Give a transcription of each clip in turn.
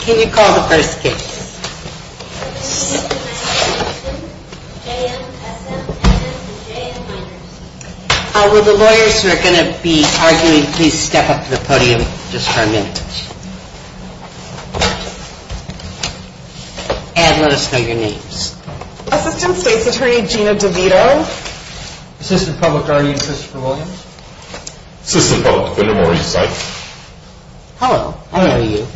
Can you call the first case? J.M., S.M., S.M., and J.M. Minors. Will the lawyers who are going to be arguing please step up to the podium just for a minute? And let us know your names. Assistant State's Attorney, Gina DeVito. Assistant Public Attorney, Christopher Williams. Assistant Public Defender, Maurice Sykes. Hello. I know you.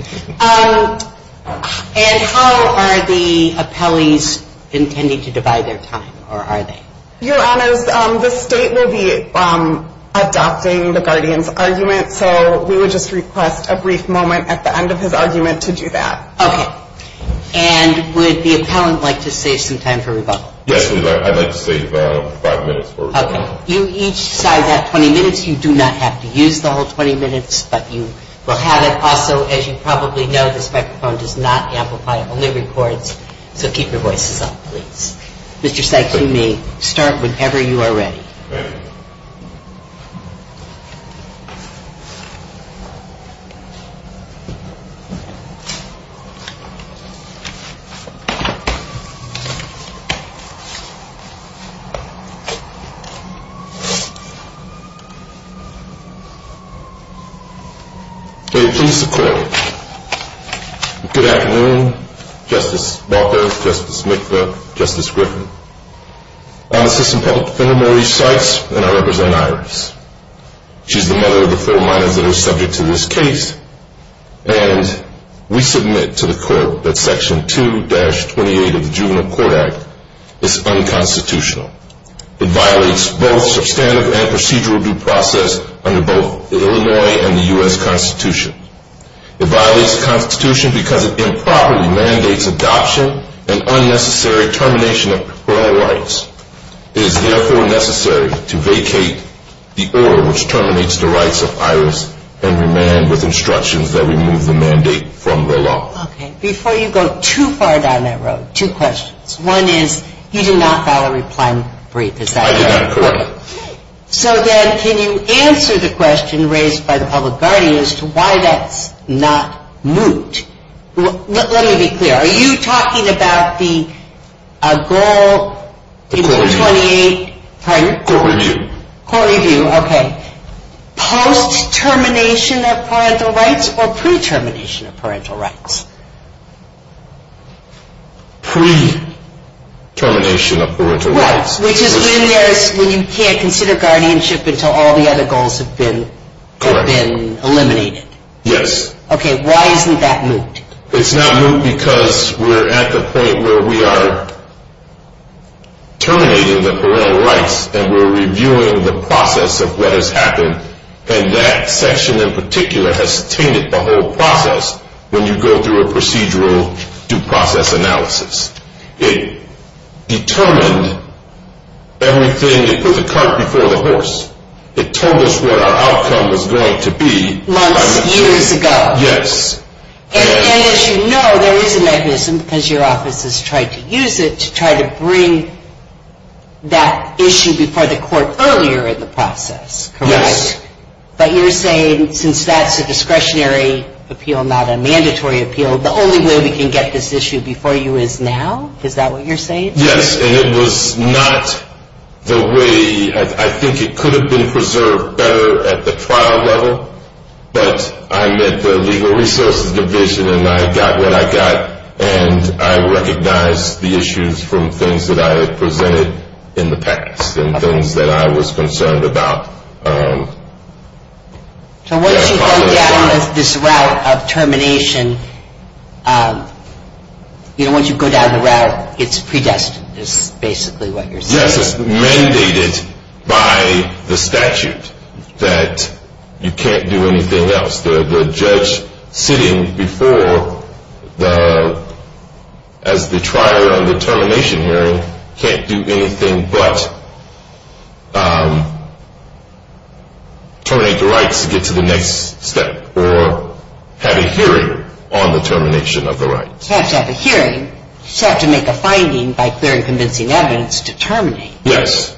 And how are the appellees intending to divide their time, or are they? Your Honors, the State will be adopting the guardian's argument. So we would just request a brief moment at the end of his argument to do that. Okay. And would the appellant like to save some time for rebuttal? Yes, please. I'd like to save five minutes for rebuttal. Okay. Do each side have 20 minutes? You do not have to use the whole 20 minutes, but you will have it. Also, as you probably know, this microphone does not amplify, only records. So keep your voices up, please. Mr. Sykes, you may start whenever you are ready. May it please the Court, good afternoon, Justice Baca, Justice Mikva, Justice Griffin. I'm Assistant Public Defender, Maurice Sykes, and I represent Iris. She's the mother of the four minors that are subject to this case, and we submit to the Court that Section 2-28 of the Juvenile Court Act is unconstitutional. It violates both substantive and procedural due process under both the Illinois and the U.S. Constitution. It violates the Constitution because it improperly mandates adoption and unnecessary termination of parole rights. It is therefore necessary to vacate the order which terminates the rights of Iris and remand with instructions that remove the mandate from the law. Okay. Before you go too far down that road, two questions. One is you did not file a reply brief, is that correct? I did not, correct. So then can you answer the question raised by the public guardian as to why that's not moot? Let me be clear. Are you talking about the goal in 2-28? Court review. Court review, okay. Post-termination of parental rights or pre-termination of parental rights? Pre-termination of parental rights. Which is when you can't consider guardianship until all the other goals have been eliminated. Correct. Yes. Okay. Why isn't that moot? It's not moot because we're at the point where we are terminating the parental rights and we're reviewing the process of what has happened, and that section in particular has tainted the whole process when you go through a procedural due process analysis. It determined everything. It put the cart before the horse. It told us what our outcome was going to be. Months and years ago. Yes. And as you know, there is a mechanism, because your office has tried to use it, to try to bring that issue before the court earlier in the process, correct? Yes. But you're saying since that's a discretionary appeal, not a mandatory appeal, the only way we can get this issue before you is now? Is that what you're saying? Yes, and it was not the way. I think it could have been preserved better at the trial level, but I met the legal resources division and I got what I got, and I recognized the issues from things that I had presented in the past and things that I was concerned about. So once you go down this route of termination, you know, once you go down the route, it's predestined is basically what you're saying. Yes, it's mandated by the statute that you can't do anything else. The judge sitting before as the trier on the termination hearing can't do anything but terminate the rights to get to the next step or have a hearing on the termination of the rights. You have to have a hearing. You have to make a finding by clearing convincing evidence to terminate. Yes.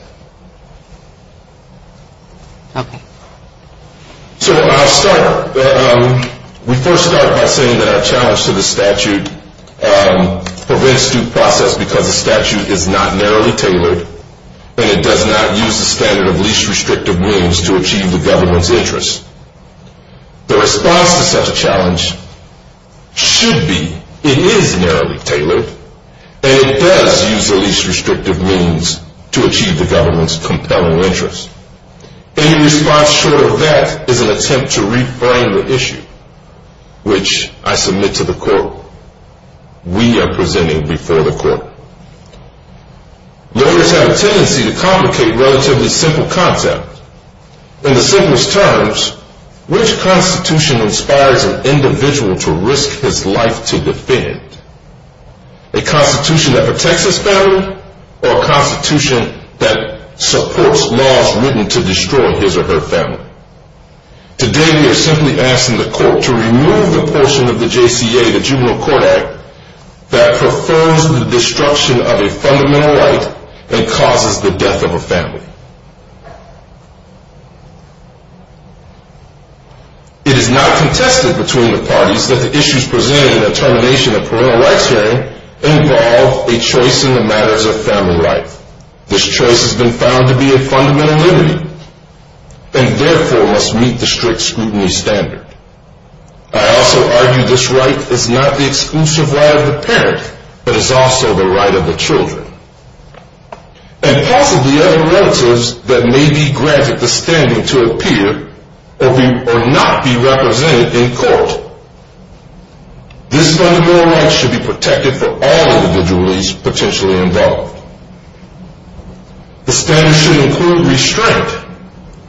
Okay. So I'll start. We first start by saying that our challenge to the statute prevents due process because the statute is not narrowly tailored and it does not use the standard of least restrictive means to achieve the government's interest. The response to such a challenge should be it is narrowly tailored and it does use the least restrictive means to achieve the government's compelling interest. Any response short of that is an attempt to reframe the issue, which I submit to the court. We are presenting before the court. Lawyers have a tendency to complicate relatively simple content. In the simplest terms, which constitution inspires an individual to risk his life to defend? A constitution that protects his family or a constitution that supports laws written to destroy his or her family? Today we are simply asking the court to remove the portion of the JCA, the Juvenile Court Act, that prefers the destruction of a fundamental right and causes the death of a family. It is not contested between the parties that the issues presented in the termination of parental rights hearing involve a choice in the matters of family right. This choice has been found to be a fundamental liberty and therefore must meet the strict scrutiny standard. I also argue this right is not the exclusive right of the parent but is also the right of the children and possibly other relatives that may be granted the standing to appear or not be represented in court. This fundamental right should be protected for all individuals potentially involved. The standard should include restraint,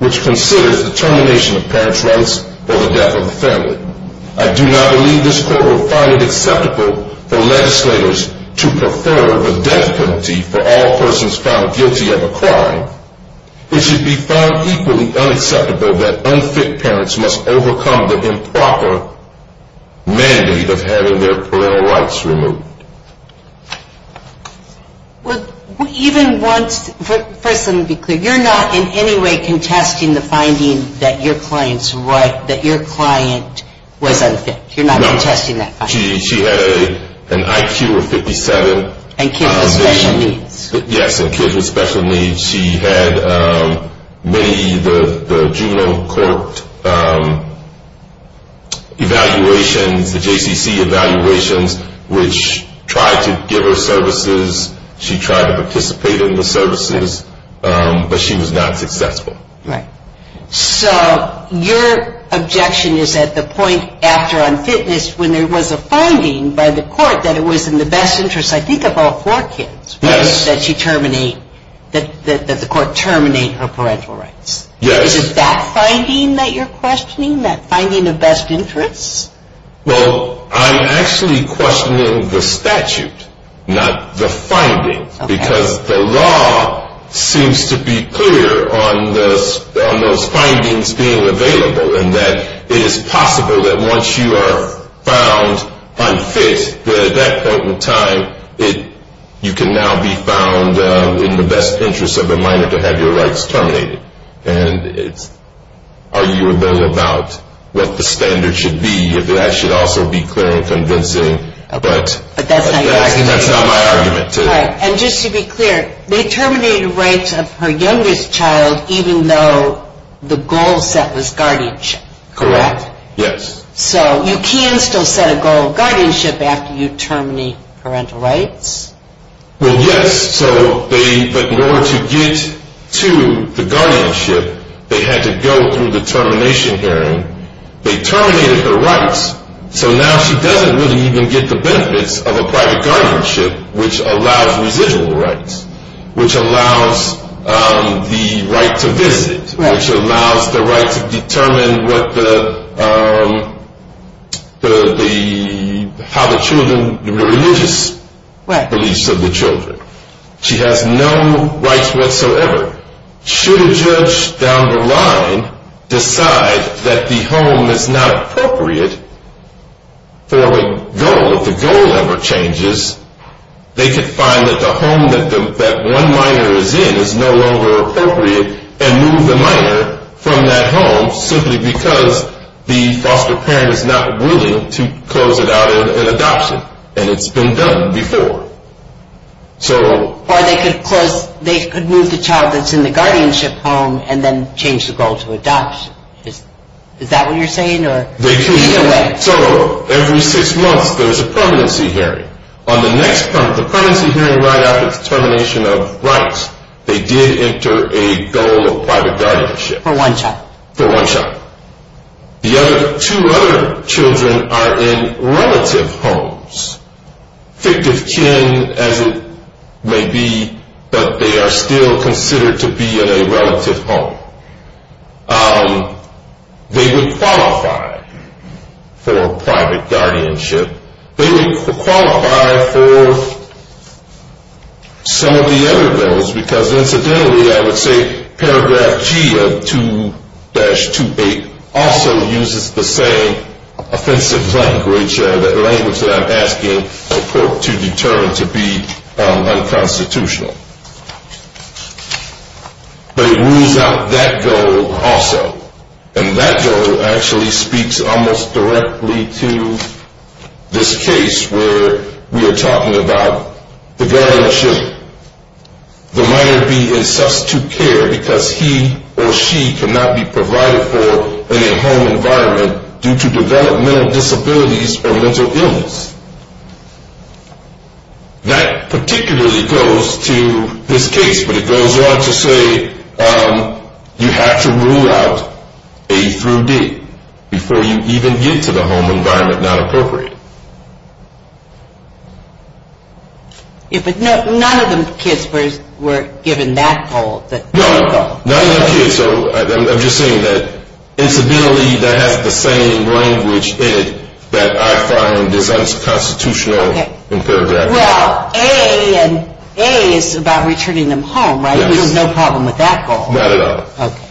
which considers the termination of parents' rights or the death of a family. I do not believe this court will find it acceptable for legislators to prefer a death penalty for all persons found guilty of a crime. It should be found equally unacceptable that unfit parents must overcome the improper mandate of having their parental rights removed. Well, even once, first let me be clear, you're not in any way contesting the finding that your client's right, that your client was unfit. You're not contesting that. No. She had an IQ of 57. And kids with special needs. Yes, and kids with special needs. She had many of the juvenile court evaluations, the JCC evaluations, which tried to give her services. She tried to participate in the services, but she was not successful. Right. So your objection is at the point after unfitness when there was a finding by the court that it was in the best interest, I think, of all four kids. Yes. Or that she terminate, that the court terminate her parental rights. Yes. Is it that finding that you're questioning, that finding of best interest? Well, I'm actually questioning the statute, not the finding. Okay. Because the law seems to be clear on those findings being available, and that it is possible that once you are found unfit, that at that point in time, you can now be found in the best interest of a minor to have your rights terminated. And it's arguable about what the standard should be. That should also be clear and convincing, but that's not my argument. And just to be clear, they terminated the rights of her youngest child even though the goal set was guardianship. Correct. Yes. So you can still set a goal of guardianship after you terminate parental rights? Well, yes. But in order to get to the guardianship, they had to go through the termination hearing. They terminated her rights. So now she doesn't really even get the benefits of a private guardianship, which allows residual rights, which allows the right to visit, which allows the right to determine how the children, the religious beliefs of the children. She has no rights whatsoever. However, should a judge down the line decide that the home is not appropriate for a goal, if the goal ever changes, they could find that the home that one minor is in is no longer appropriate and move the minor from that home simply because the foster parent is not willing to close it out and adopt it. And it's been done before. Or they could move the child that's in the guardianship home and then change the goal to adoption. Is that what you're saying? Either way. So every six months there's a permanency hearing. On the next month, the permanency hearing right after the termination of rights, they did enter a goal of private guardianship. For one child. For one child. The other two other children are in relative homes. Fictive kin as it may be, but they are still considered to be in a relative home. They would qualify for private guardianship. They would qualify for some of the other goals because incidentally I would say paragraph G of 2-28 also uses the same offensive language, that language that I'm asking the court to determine to be unconstitutional. But it rules out that goal also. And that goal actually speaks almost directly to this case where we are talking about the guardianship. The minor be in substitute care because he or she cannot be provided for in a home environment due to developmental disabilities or mental illness. That particularly goes to this case, but it goes on to say you have to rule out A through D before you even get to the home environment not appropriate. Yeah, but none of the kids were given that goal. None of the kids, so I'm just saying that incidentally that has the same language in it that I find is unconstitutional in paragraph G. Well, A is about returning them home, right? Yes. There's no problem with that goal. Not at all. Okay.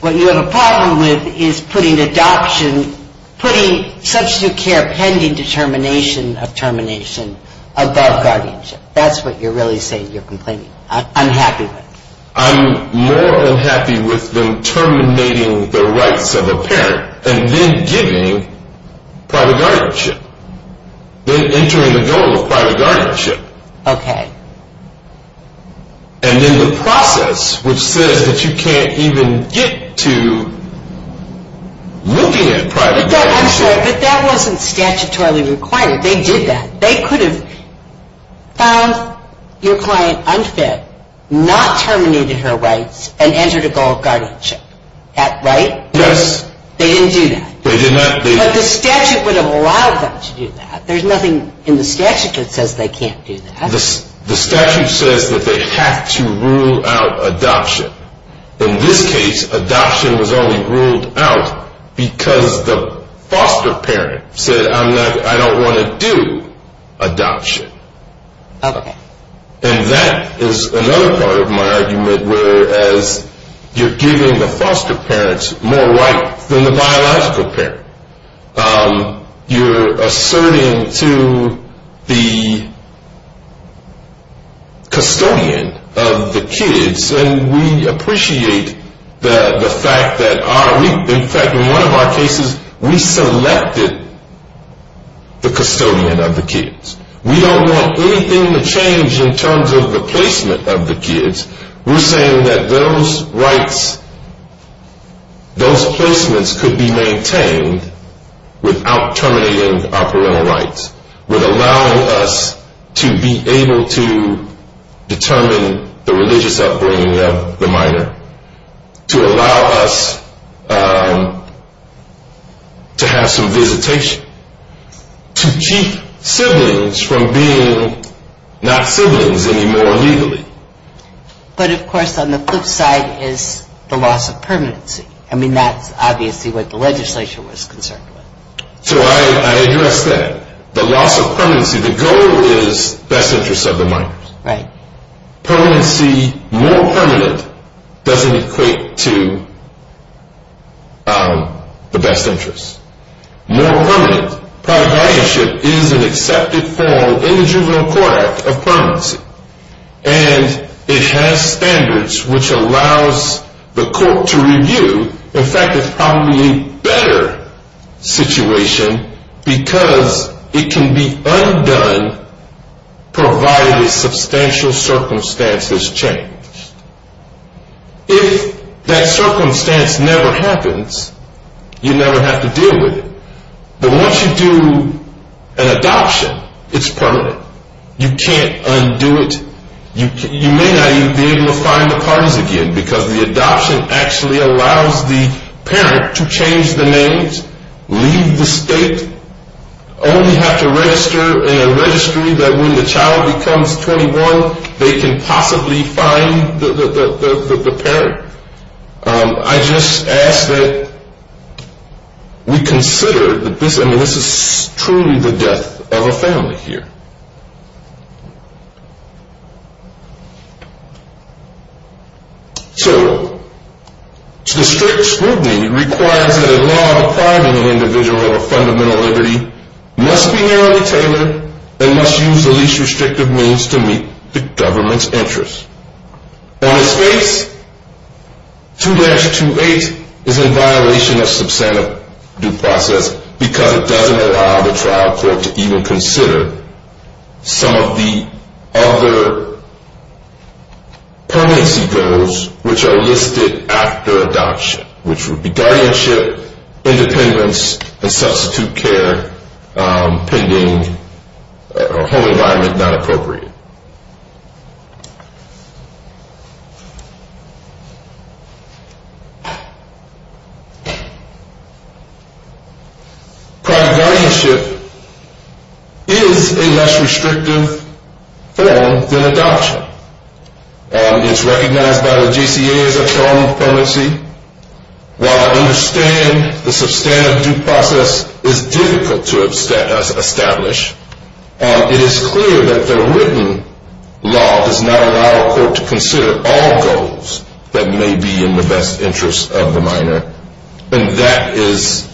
What you have a problem with is putting adoption, putting substitute care pending determination of termination above guardianship. That's what you're really saying you're complaining, unhappy with. I'm more unhappy with them terminating the rights of a parent and then giving private guardianship, then entering the goal of private guardianship. Okay. And then the process which says that you can't even get to looking at private guardianship. I'm sorry, but that wasn't statutorily required. They did that. They could have found your client unfit, not terminated her rights, and entered a goal of guardianship, right? Yes. They didn't do that. They did not. But the statute would have allowed them to do that. There's nothing in the statute that says they can't do that. The statute says that they have to rule out adoption. In this case, adoption was only ruled out because the foster parent said, I don't want to do adoption. Okay. And that is another part of my argument, whereas you're giving the foster parents more rights than the biological parent. You're asserting to the custodian of the kids, and we appreciate the fact that in fact in one of our cases we selected the custodian of the kids. We don't want anything to change in terms of the placement of the kids. We're saying that those rights, those placements could be maintained without terminating our parental rights, without allowing us to be able to determine the religious upbringing of the minor, to allow us to have some visitation, to keep siblings from being not siblings anymore legally. But, of course, on the flip side is the loss of permanency. I mean, that's obviously what the legislature was concerned with. So I address that. The loss of permanency, the goal is best interests of the minors. Right. Permanency, more permanent, doesn't equate to the best interests. More permanent, private guardianship is an accepted form in the juvenile court of permanency, and it has standards which allows the court to review. In fact, it's probably a better situation because it can be undone provided a substantial circumstance is changed. If that circumstance never happens, you never have to deal with it. But once you do an adoption, it's permanent. You can't undo it. You may not even be able to find the parties again because the adoption actually allows the parent to change the names, leave the state, only have to register in a registry that when the child becomes 21, they can possibly find the parent. I just ask that we consider that this is truly the death of a family here. So, the strict scrutiny requires that a law requiring an individual of fundamental liberty must be narrowly tailored and must use the least restrictive means to meet the government's interests. On its face, 2-2-8 is in violation of substantive due process because it doesn't allow the trial court to even consider some of the other permanency goals which are listed after adoption, which would be guardianship, independence, and substitute care pending, or home environment not appropriate. Thank you. Private guardianship is a less restrictive form than adoption. It's recognized by the GCA as a term of permanency. While I understand the substantive due process is difficult to establish, it is clear that the written law does not allow a court to consider all goals that may be in the best interest of the minor. And that is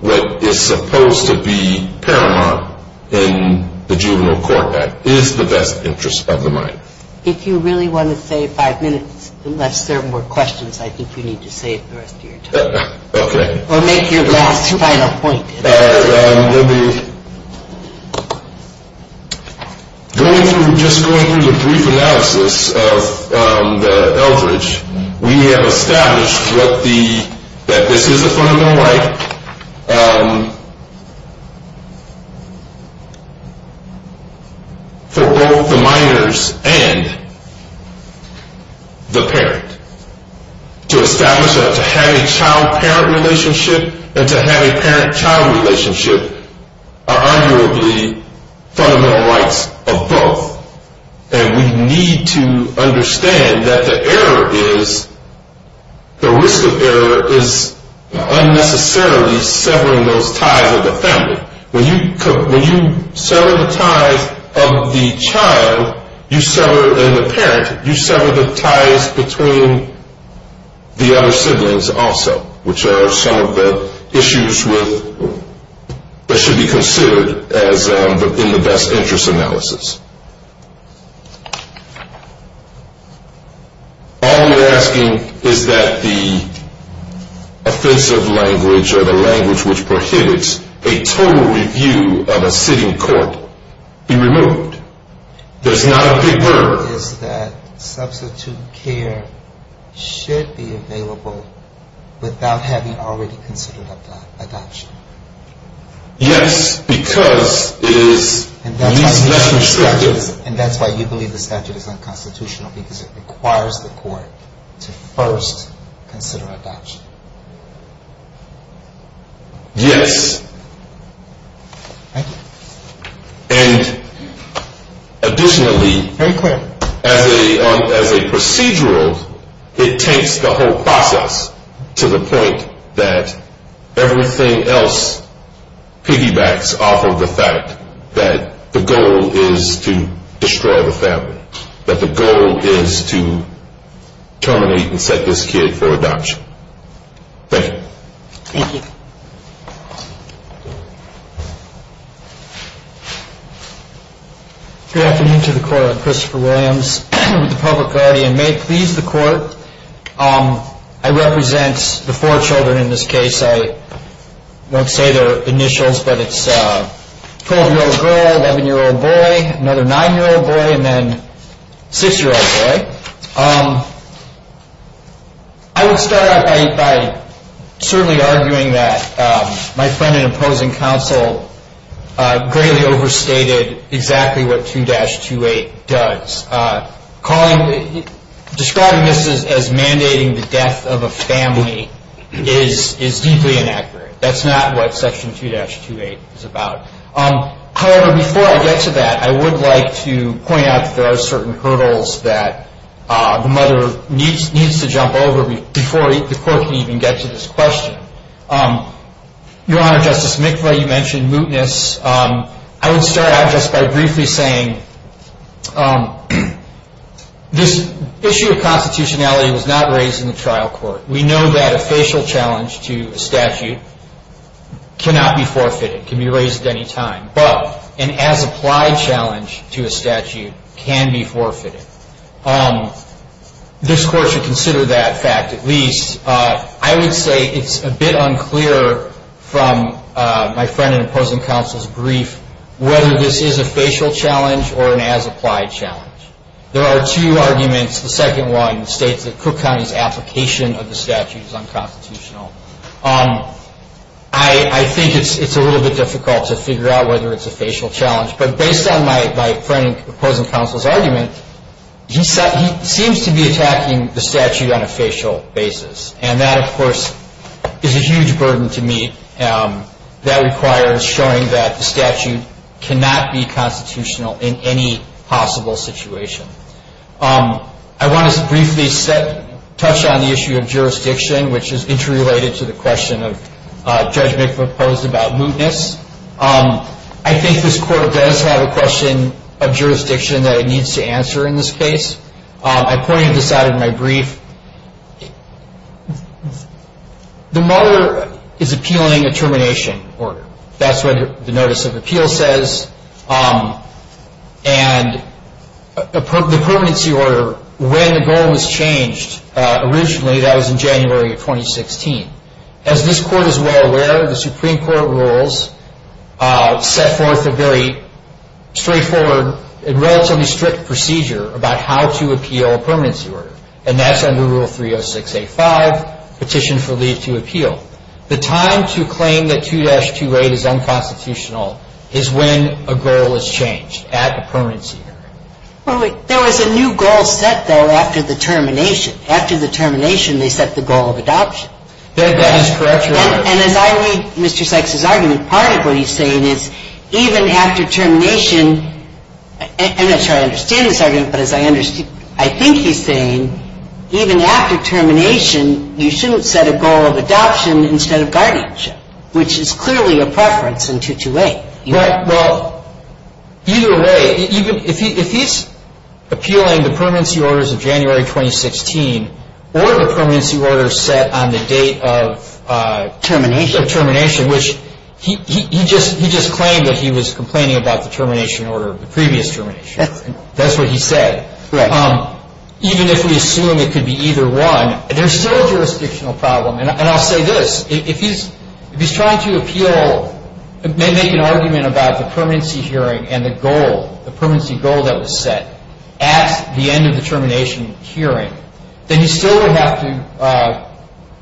what is supposed to be paramount in the Juvenile Court Act, is the best interest of the minor. If you really want to save five minutes, unless there are more questions, I think you need to save the rest of your time. Okay. Or make your last final point. Going through, just going through the brief analysis of the Eldridge, we have established that this is a fundamental right for both the minors and the parent. To establish that to have a child-parent relationship and to have a parent-child relationship are arguably fundamental rights of both. And we need to understand that the error is, the risk of error is unnecessarily severing those ties of the family. When you sever the ties of the child and the parent, you sever the ties between the other siblings also, which are some of the issues that should be considered in the best interest analysis. All you're asking is that the offensive language or the language which prohibits a total review of a sitting court be removed. There's not a big word. Is that substitute care should be available without having already considered adoption. Yes, because it is. And that's why you believe the statute is unconstitutional because it requires the court to first consider adoption. Yes. Thank you. And additionally. Very clear. As a procedural, it takes the whole process to the point that everything else piggybacks off of the fact that the goal is to destroy the family. That the goal is to terminate and set this kid for adoption. Thank you. Thank you. Thank you. Good afternoon to the court. Christopher Williams with the Public Guardian. May it please the court. I represent the four children in this case. I won't say their initials, but it's a 12-year-old girl, 11-year-old boy, another 9-year-old boy, and then 6-year-old boy. I would start out by certainly arguing that my friend in opposing counsel greatly overstated exactly what 2-28 does. Describing this as mandating the death of a family is deeply inaccurate. That's not what Section 2-28 is about. However, before I get to that, I would like to point out that there are certain hurdles that the mother needs to jump over before the court can even get to this question. Your Honor, Justice McVeigh, you mentioned mootness. I would start out just by briefly saying this issue of constitutionality was not raised in the trial court. We know that a facial challenge to a statute cannot be forfeited. It can be raised at any time. But an as-applied challenge to a statute can be forfeited. This Court should consider that fact at least. I would say it's a bit unclear from my friend in opposing counsel's brief whether this is a facial challenge or an as-applied challenge. There are two arguments. The second one states that Cook County's application of the statute is unconstitutional. I think it's a little bit difficult to figure out whether it's a facial challenge. But based on my friend in opposing counsel's argument, he seems to be attacking the statute on a facial basis. And that, of course, is a huge burden to meet. That requires showing that the statute cannot be constitutional in any possible situation. I want to briefly touch on the issue of jurisdiction, which is interrelated to the question Judge McVeigh posed about mootness. I think this Court does have a question of jurisdiction that it needs to answer in this case. The motto is appealing a termination order. That's what the Notice of Appeal says. And the permanency order, when the goal was changed originally, that was in January of 2016. As this Court is well aware, the Supreme Court rules set forth a very straightforward and relatively strict procedure about how to appeal a permanency order. And that's under Rule 306A.5, Petition for Leave to Appeal. The time to claim that 2-2.8 is unconstitutional is when a goal is changed at a permanency order. There was a new goal set, though, after the termination. After the termination, they set the goal of adoption. That is correct, Your Honor. And as I read Mr. Sykes' argument, part of what he's saying is even after termination, I'm not sure I understand his argument, but I think he's saying even after termination, you shouldn't set a goal of adoption instead of guardianship, which is clearly a preference in 2-2.8. Right. Well, either way, if he's appealing the permanency orders of January 2016 or the permanency order set on the date of termination, which he just claimed that he was complaining about the termination order of the previous termination. That's what he said. Right. Even if we assume it could be either one, there's still a jurisdictional problem. And I'll say this. If he's trying to appeal, make an argument about the permanency hearing and the goal, the permanency goal that was set at the end of the termination hearing, then he still would have to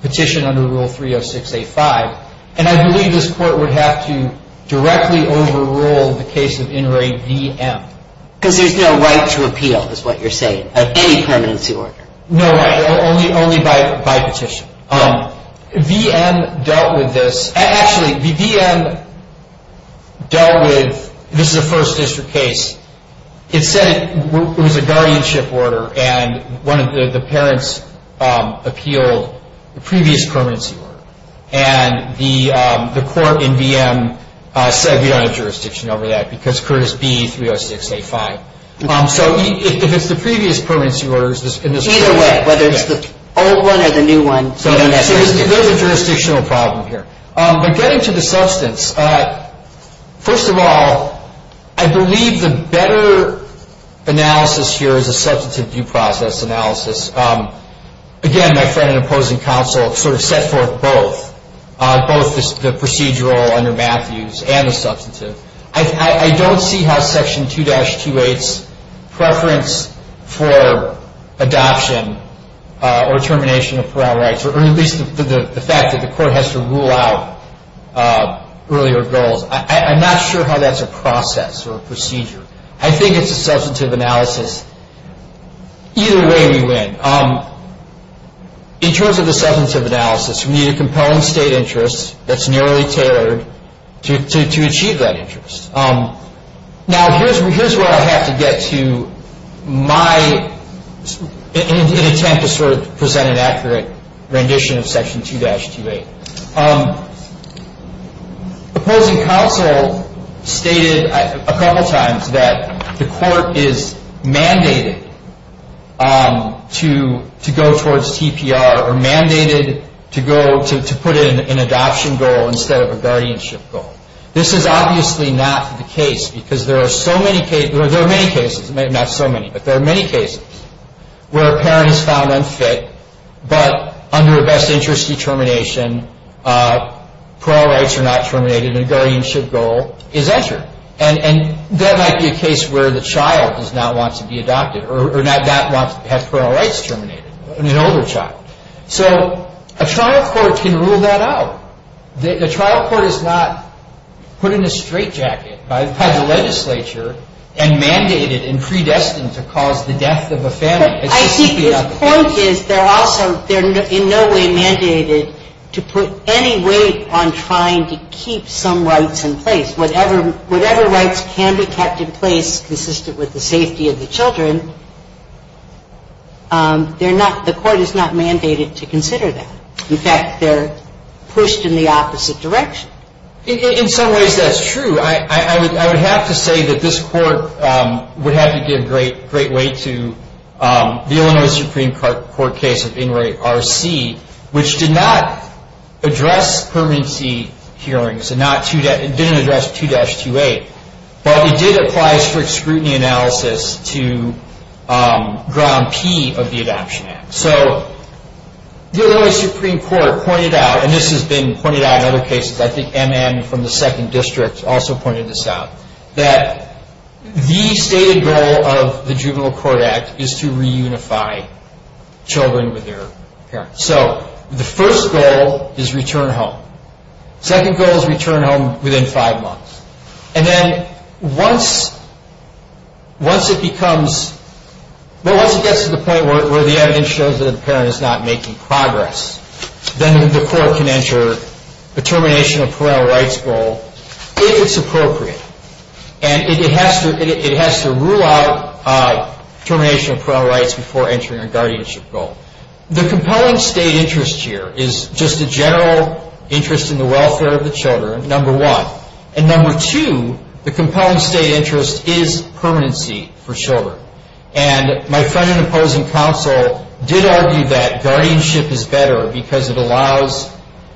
petition under Rule 306A.5. And I believe this Court would have to directly overrule the case of Inouye V.M. Because there's no right to appeal, is what you're saying, of any permanency order. No right, only by petition. V.M. dealt with this. Actually, V.M. dealt with this is a First District case. It said it was a guardianship order, and one of the parents appealed the previous permanency order. And the court in V.M. said we don't have jurisdiction over that because Curtis B. 306A.5. So if it's the previous permanency order, it's just in this case. Either way, whether it's the old one or the new one, we don't have jurisdiction. So there's a jurisdictional problem here. But getting to the substance, first of all, I believe the better analysis here is a substantive due process analysis. Again, my friend and opposing counsel sort of set forth both, both the procedural under Matthews and the substantive. I don't see how Section 2-28's preference for adoption or termination of parole rights, or at least the fact that the court has to rule out earlier goals, I'm not sure how that's a process or a procedure. I think it's a substantive analysis. Either way, we win. In terms of the substantive analysis, we need a compelling state interest that's narrowly tailored to achieve that interest. Now, here's where I have to get to in an attempt to sort of present an accurate rendition of Section 2-28. Opposing counsel stated a couple times that the court is mandated to go towards TPR, or mandated to go to put in an adoption goal instead of a guardianship goal. This is obviously not the case because there are so many cases, well, there are many cases, not so many, but there are many cases where a parent is found unfit, but under a best interest determination, parole rights are not terminated and a guardianship goal is entered. And that might be a case where the child does not want to be adopted, or not have parole rights terminated, an older child. So a trial court can rule that out. The trial court is not put in a straitjacket by the legislature and mandated and predestined to cause the death of a family. I think his point is they're also, they're in no way mandated to put any weight on trying to keep some rights in place. Whatever rights can be kept in place consistent with the safety of the children, they're not, the court is not mandated to consider that. In fact, they're pushed in the opposite direction. In some ways that's true. I would have to say that this court would have to give great weight to the Illinois Supreme Court case of Inouye RC, which did not address permanency hearings, it didn't address 2-28, but it did apply strict scrutiny analysis to Ground P of the Adoption Act. So the Illinois Supreme Court pointed out, and this has been pointed out in other cases, I think M.M. from the Second District also pointed this out, that the stated goal of the Juvenile Court Act is to reunify children with their parents. So the first goal is return home. Second goal is return home within five months. And then once it becomes, well, once it gets to the point where the evidence shows that the parent is not making progress, then the court can enter a termination of parental rights goal if it's appropriate. And it has to rule out termination of parental rights before entering a guardianship goal. The compelling state interest here is just a general interest in the welfare of the children, number one, and number two, the compelling state interest is permanency for children. And my friend and opposing counsel did argue that guardianship is better because it allows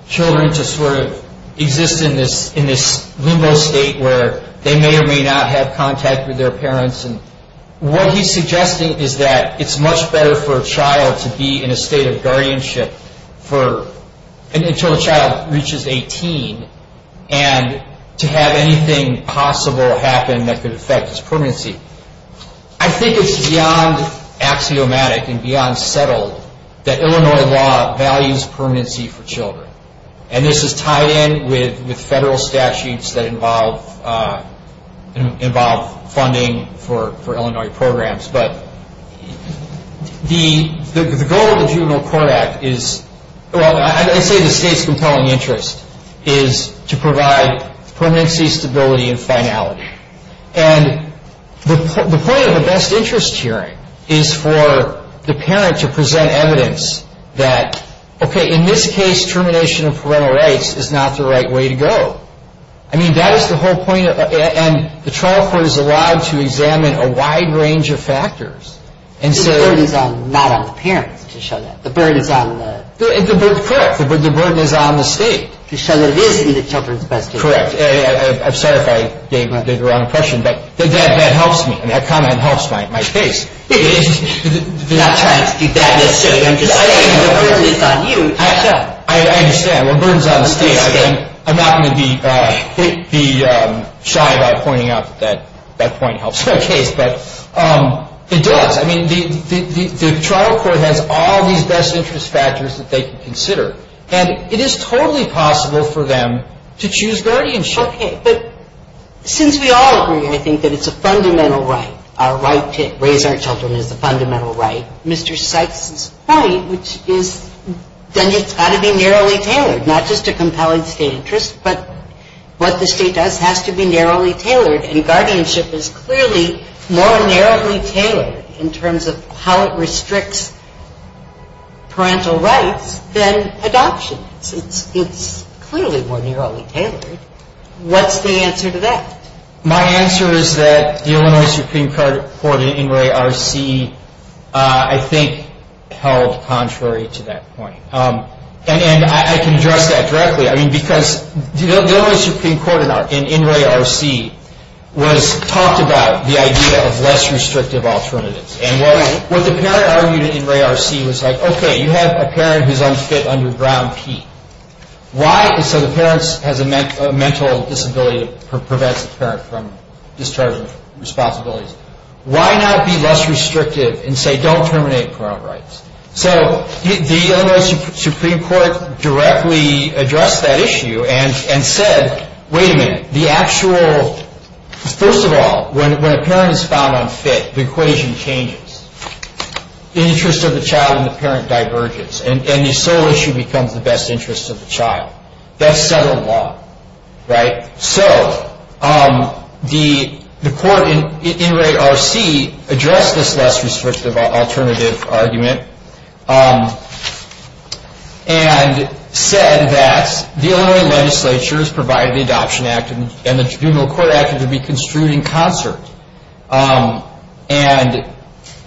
children to sort of exist in this limbo state where they may or may not have contact with their parents. And what he's suggesting is that it's much better for a child to be in a state of guardianship for, until the child reaches 18, and to have anything possible happen that could affect his permanency. I think it's beyond axiomatic and beyond settled that Illinois law values permanency for children. And this is tied in with federal statutes that involve funding for Illinois programs. But the goal of the Juvenile Court Act is, well, I say the state's compelling interest is to provide permanency, stability, and finality. And the point of the best interest hearing is for the parent to present evidence that, okay, in this case, termination of parental rights is not the right way to go. I mean, that is the whole point. And the trial court is allowed to examine a wide range of factors. And so... The burden is not on the parents to show that. The burden is on the... Correct. The burden is on the state. To show that it is in the children's best interest. Correct. I'm sorry if I gave the wrong impression, but that helps me. And that comment helps my case. I'm not trying to do that necessarily. I'm just saying the burden is on you. I understand. The burden is on the state. I'm not going to be shy about pointing out that that point helps my case. But it does. I mean, the trial court has all these best interest factors that they can consider. And it is totally possible for them to choose guardianship. Okay. But since we all agree, I think, that it's a fundamental right. Our right to raise our children is a fundamental right. Mr. Sykes' point, which is that it's got to be narrowly tailored. Not just a compelling state interest, but what the state does has to be narrowly tailored. And guardianship is clearly more narrowly tailored in terms of how it restricts parental rights than adoption. It's clearly more narrowly tailored. What's the answer to that? My answer is that the Illinois Supreme Court in INRAE-RC, I think, held contrary to that point. And I can address that directly. I mean, because the Illinois Supreme Court in INRAE-RC talked about the idea of less restrictive alternatives. And what the parent argued in INRAE-RC was like, okay, you have a parent who's unfit under Brown P. So the parent has a mental disability that prevents the parent from discharging responsibilities. Why not be less restrictive and say, don't terminate parental rights? So the Illinois Supreme Court directly addressed that issue and said, wait a minute. The actual, first of all, when a parent is found unfit, the equation changes. The interest of the child and the parent diverges, and the sole issue becomes the best interest of the child. That's federal law, right? So the court in INRAE-RC addressed this less restrictive alternative argument and said that the Illinois legislature has provided the Adoption Act and the Juvenile Court Act to be construed in concert. And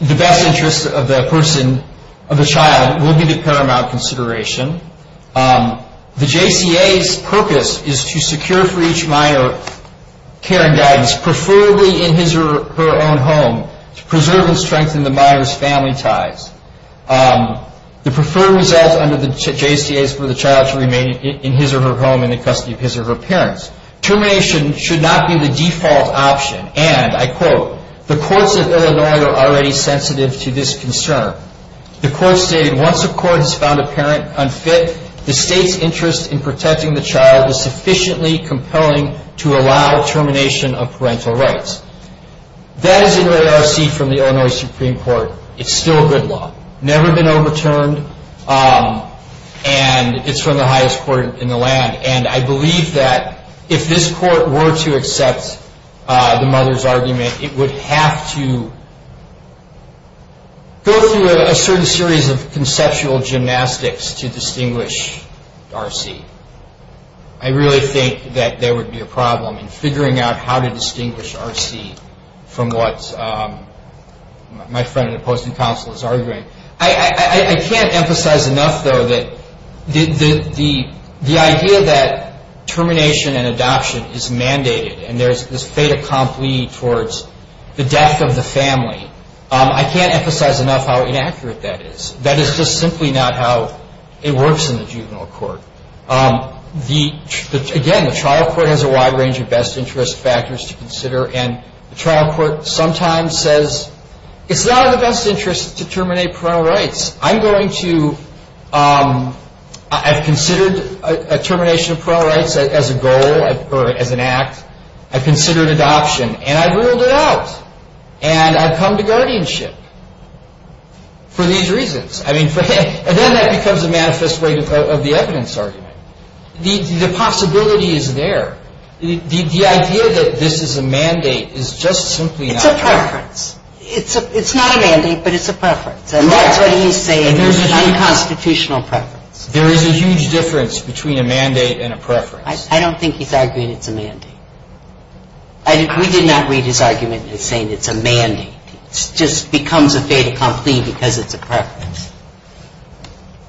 the best interest of the person, of the child, will be the paramount consideration. The JCA's purpose is to secure for each minor care and guidance, preferably in his or her own home, to preserve and strengthen the minor's family ties. The preferred result under the JCA is for the child to remain in his or her home in the custody of his or her parents. Termination should not be the default option, and I quote, the courts of Illinois are already sensitive to this concern. The court stated, once a court has found a parent unfit, the state's interest in protecting the child is sufficiently compelling to allow termination of parental rights. That is INRAE-RC from the Illinois Supreme Court. It's still good law. Never been overturned, and it's from the highest court in the land. And I believe that if this court were to accept the mother's argument, it would have to go through a certain series of conceptual gymnastics to distinguish RC. I really think that there would be a problem in figuring out how to distinguish RC from what my friend and opposing counsel is arguing. I can't emphasize enough, though, that the idea that termination and adoption is mandated and there's this fait accompli towards the death of the family, I can't emphasize enough how inaccurate that is. That is just simply not how it works in the juvenile court. Again, the trial court has a wide range of best interest factors to consider, and the trial court sometimes says, it's not in the best interest to terminate parental rights. I'm going to ‑‑ I've considered a termination of parental rights as a goal or as an act. I've considered adoption, and I've ruled it out. And I've come to guardianship for these reasons. And then that becomes a manifest way of the evidence argument. The possibility is there. The idea that this is a mandate is just simply not ‑‑ It's a preference. It's not a mandate, but it's a preference. And that's what he's saying. It's an unconstitutional preference. There is a huge difference between a mandate and a preference. I don't think he's arguing it's a mandate. We did not read his argument in saying it's a mandate. It just becomes a fait accompli because it's a preference.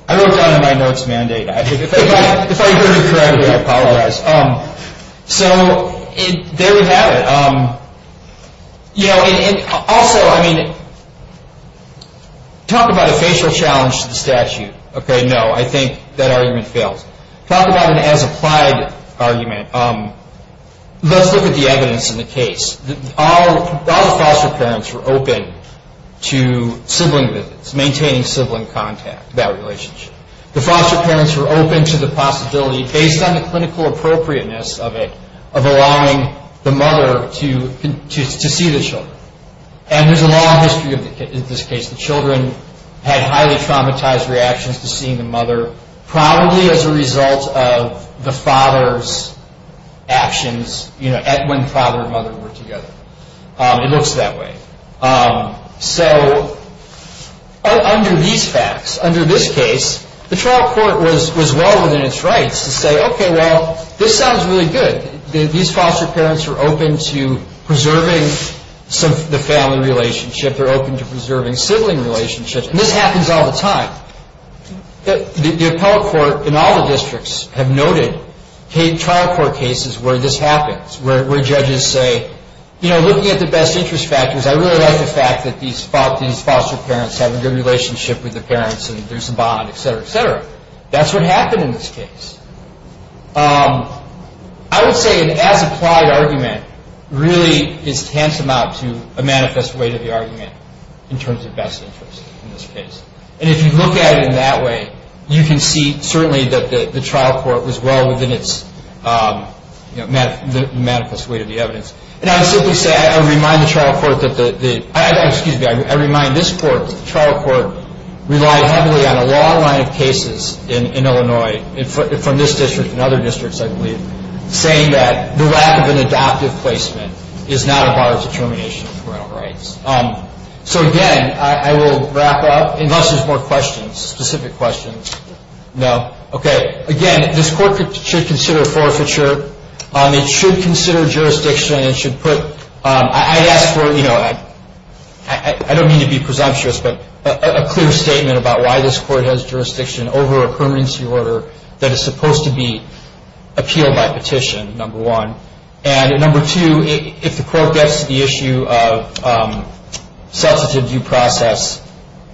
I wrote down in my notes mandate. If I heard it correctly, I apologize. So there we have it. Also, I mean, talk about a facial challenge to the statute. No, I think that argument fails. Talk about an as applied argument. Let's look at the evidence in the case. All the foster parents were open to sibling visits, maintaining sibling contact, that relationship. The foster parents were open to the possibility, based on the clinical appropriateness of it, of allowing the mother to see the children. And there's a long history of this case. The children had highly traumatized reactions to seeing the mother, probably as a result of the father's actions when father and mother were together. It looks that way. So under these facts, under this case, the trial court was well within its rights to say, okay, well, this sounds really good. These foster parents are open to preserving the family relationship. They're open to preserving sibling relationships. And this happens all the time. The appellate court in all the districts have noted trial court cases where this happens, where judges say, you know, looking at the best interest factors, I really like the fact that these foster parents have a good relationship with their parents and there's a bond, et cetera, et cetera. That's what happened in this case. I would say an as applied argument really is tantamount to a manifest way to the argument in terms of best interest in this case. And if you look at it in that way, you can see certainly that the trial court was well within its manifest way to the evidence. And I would simply say, I remind the trial court that the ‑‑ excuse me, I remind this court that the trial court relied heavily on a long line of cases in Illinois, from this district and other districts, I believe, saying that the lack of an adoptive placement is not a bar of determination of parental rights. So, again, I will wrap up. Unless there's more questions, specific questions. No? Okay. Again, this court should consider forfeiture. It should consider jurisdiction. It should put ‑‑ I ask for, you know, I don't mean to be presumptuous, but a clear statement about why this court has jurisdiction over a permanency order that is supposed to be appealed by petition, number one. And number two, if the court gets to the issue of substantive due process,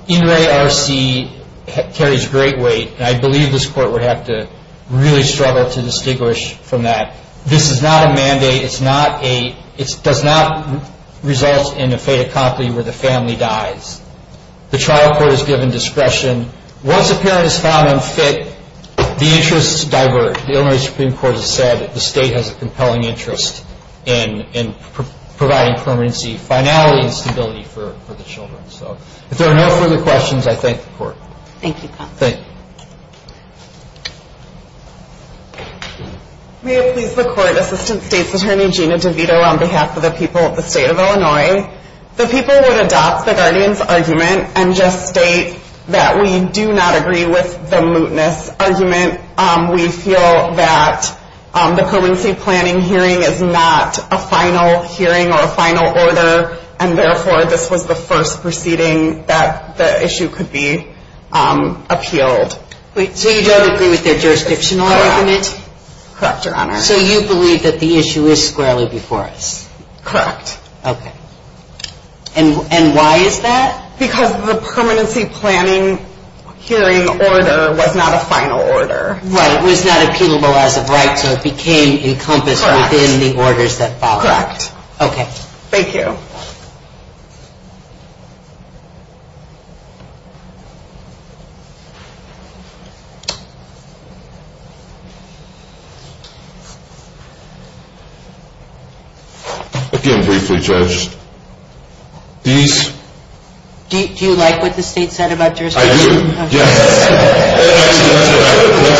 NRA RC carries great weight, and I believe this court would have to really struggle to distinguish from that. This is not a mandate. It's not a ‑‑ it does not result in a fait accompli where the family dies. The trial court is given discretion. Once a parent is found unfit, the interests diverge. The Illinois Supreme Court has said that the state has a compelling interest in providing permanency finality and stability for the children. So, if there are no further questions, I thank the court. Thank you. Thank you. May it please the court, Assistant State's Attorney Gina DeVito on behalf of the people of the state of Illinois. The people would adopt the guardian's argument and just state that we do not agree with the mootness argument. We feel that the permanency planning hearing is not a final hearing or a final order, and therefore, this was the first proceeding that the issue could be appealed. So, you don't agree with their jurisdictional argument? Correct, Your Honor. So, you believe that the issue is squarely before us? Correct. Okay. And why is that? Because the permanency planning hearing order was not a final order. Right. It was not appealable as of right, so it became encompassed within the orders that followed. Correct. Okay. Thank you. Thank you. Again, briefly, Judge, these... Do you like what the state said about jurisdiction? I do. Yes. Actually, that's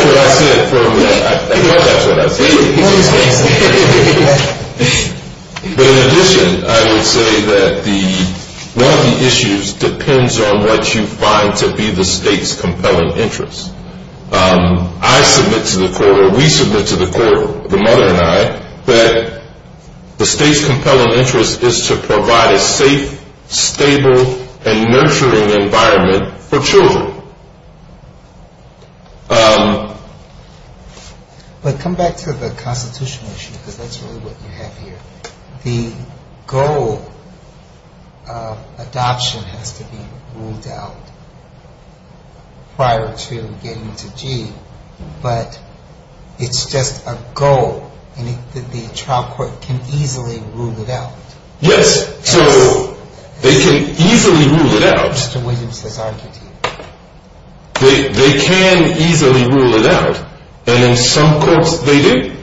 what I said. I think that's what I said. But in addition, I would say that one of the issues depends on what you find to be the state's compelling interest. I submit to the court, or we submit to the court, the mother and I, that the state's compelling interest is to provide a safe, stable, and nurturing environment for children. But come back to the constitutional issue, because that's really what you have here. The goal of adoption has to be ruled out prior to getting to G, but it's just a goal, and the trial court can easily rule it out. Yes. So, they can easily rule it out. Mr. Williams has argued here. They can easily rule it out, and in some courts, they do,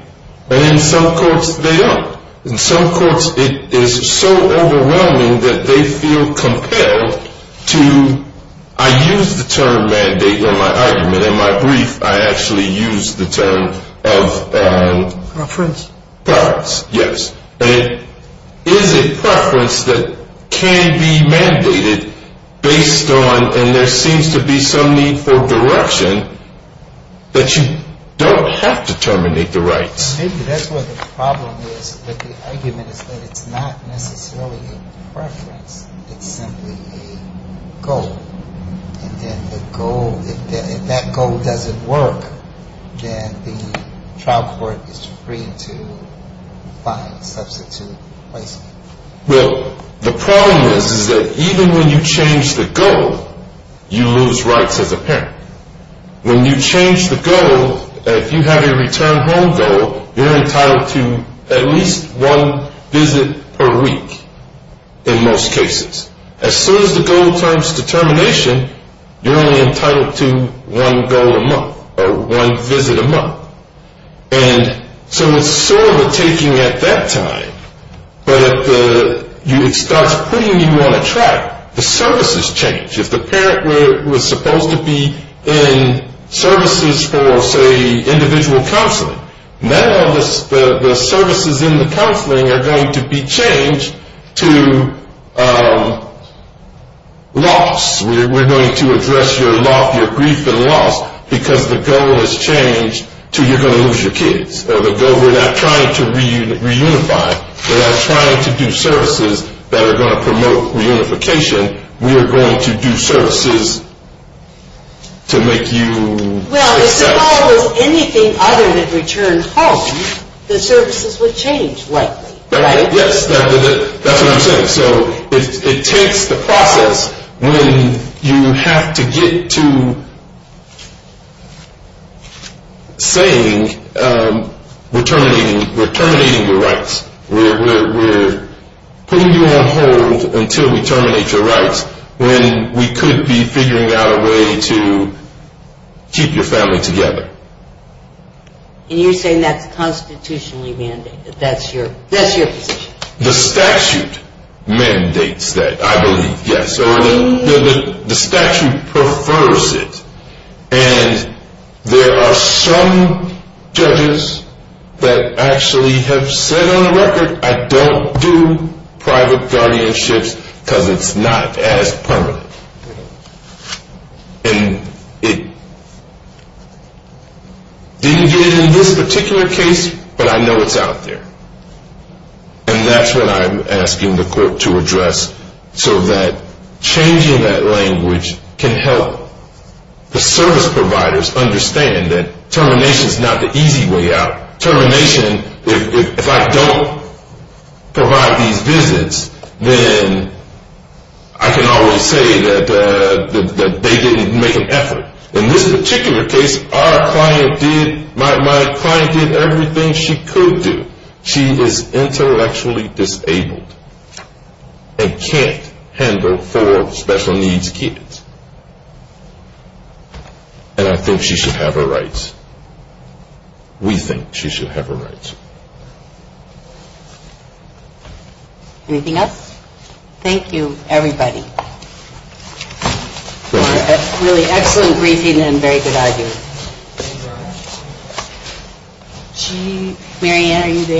and in some courts, they don't. In some courts, it is so overwhelming that they feel compelled to... I use the term mandate in my argument. In my brief, I actually use the term of... Preference. Preference, yes. And it is a preference that can be mandated based on... And there seems to be some need for direction that you don't have to terminate the rights. Maybe that's where the problem is. The argument is that it's not necessarily a preference. It's simply a goal. And then the goal, if that goal doesn't work, then the trial court is free to find substitute places. Well, the problem is, is that even when you change the goal, you lose rights as a parent. When you change the goal, if you have a return home goal, you're entitled to at least one visit per week in most cases. As soon as the goal turns to termination, you're only entitled to one goal a month or one visit a month. And so it's sort of a taking at that time. But if it starts putting you on a track, the services change. If the parent was supposed to be in services for, say, individual counseling, now the services in the counseling are going to be changed to loss. We're going to address your loss, your grief and loss, because the goal has changed to you're going to lose your kids. So the goal, we're not trying to reunify. We're not trying to do services that are going to promote reunification. We are going to do services to make you... Well, if the goal was anything other than return home, the services would change, right? Yes, that's what I'm saying. So it takes the process when you have to get to saying we're terminating your rights. We're putting you on hold until we terminate your rights when we could be figuring out a way to keep your family together. And you're saying that's constitutionally mandated? That's your position? The statute mandates that, I believe, yes. The statute prefers it. And there are some judges that actually have said on the record, I don't do private guardianships because it's not as permanent. And it didn't get in this particular case, but I know it's out there. And that's what I'm asking the court to address so that changing that language can help the service providers understand that termination is not the easy way out. Termination, if I don't provide these visits, then I can always say that they didn't make an effort. In this particular case, my client did everything she could do. She is intellectually disabled and can't handle four special needs kids. And I think she should have her rights. We think she should have her rights. Anything else? Thank you, everybody. Thank you. Really excellent briefing and a very good idea. Marianne, are you there?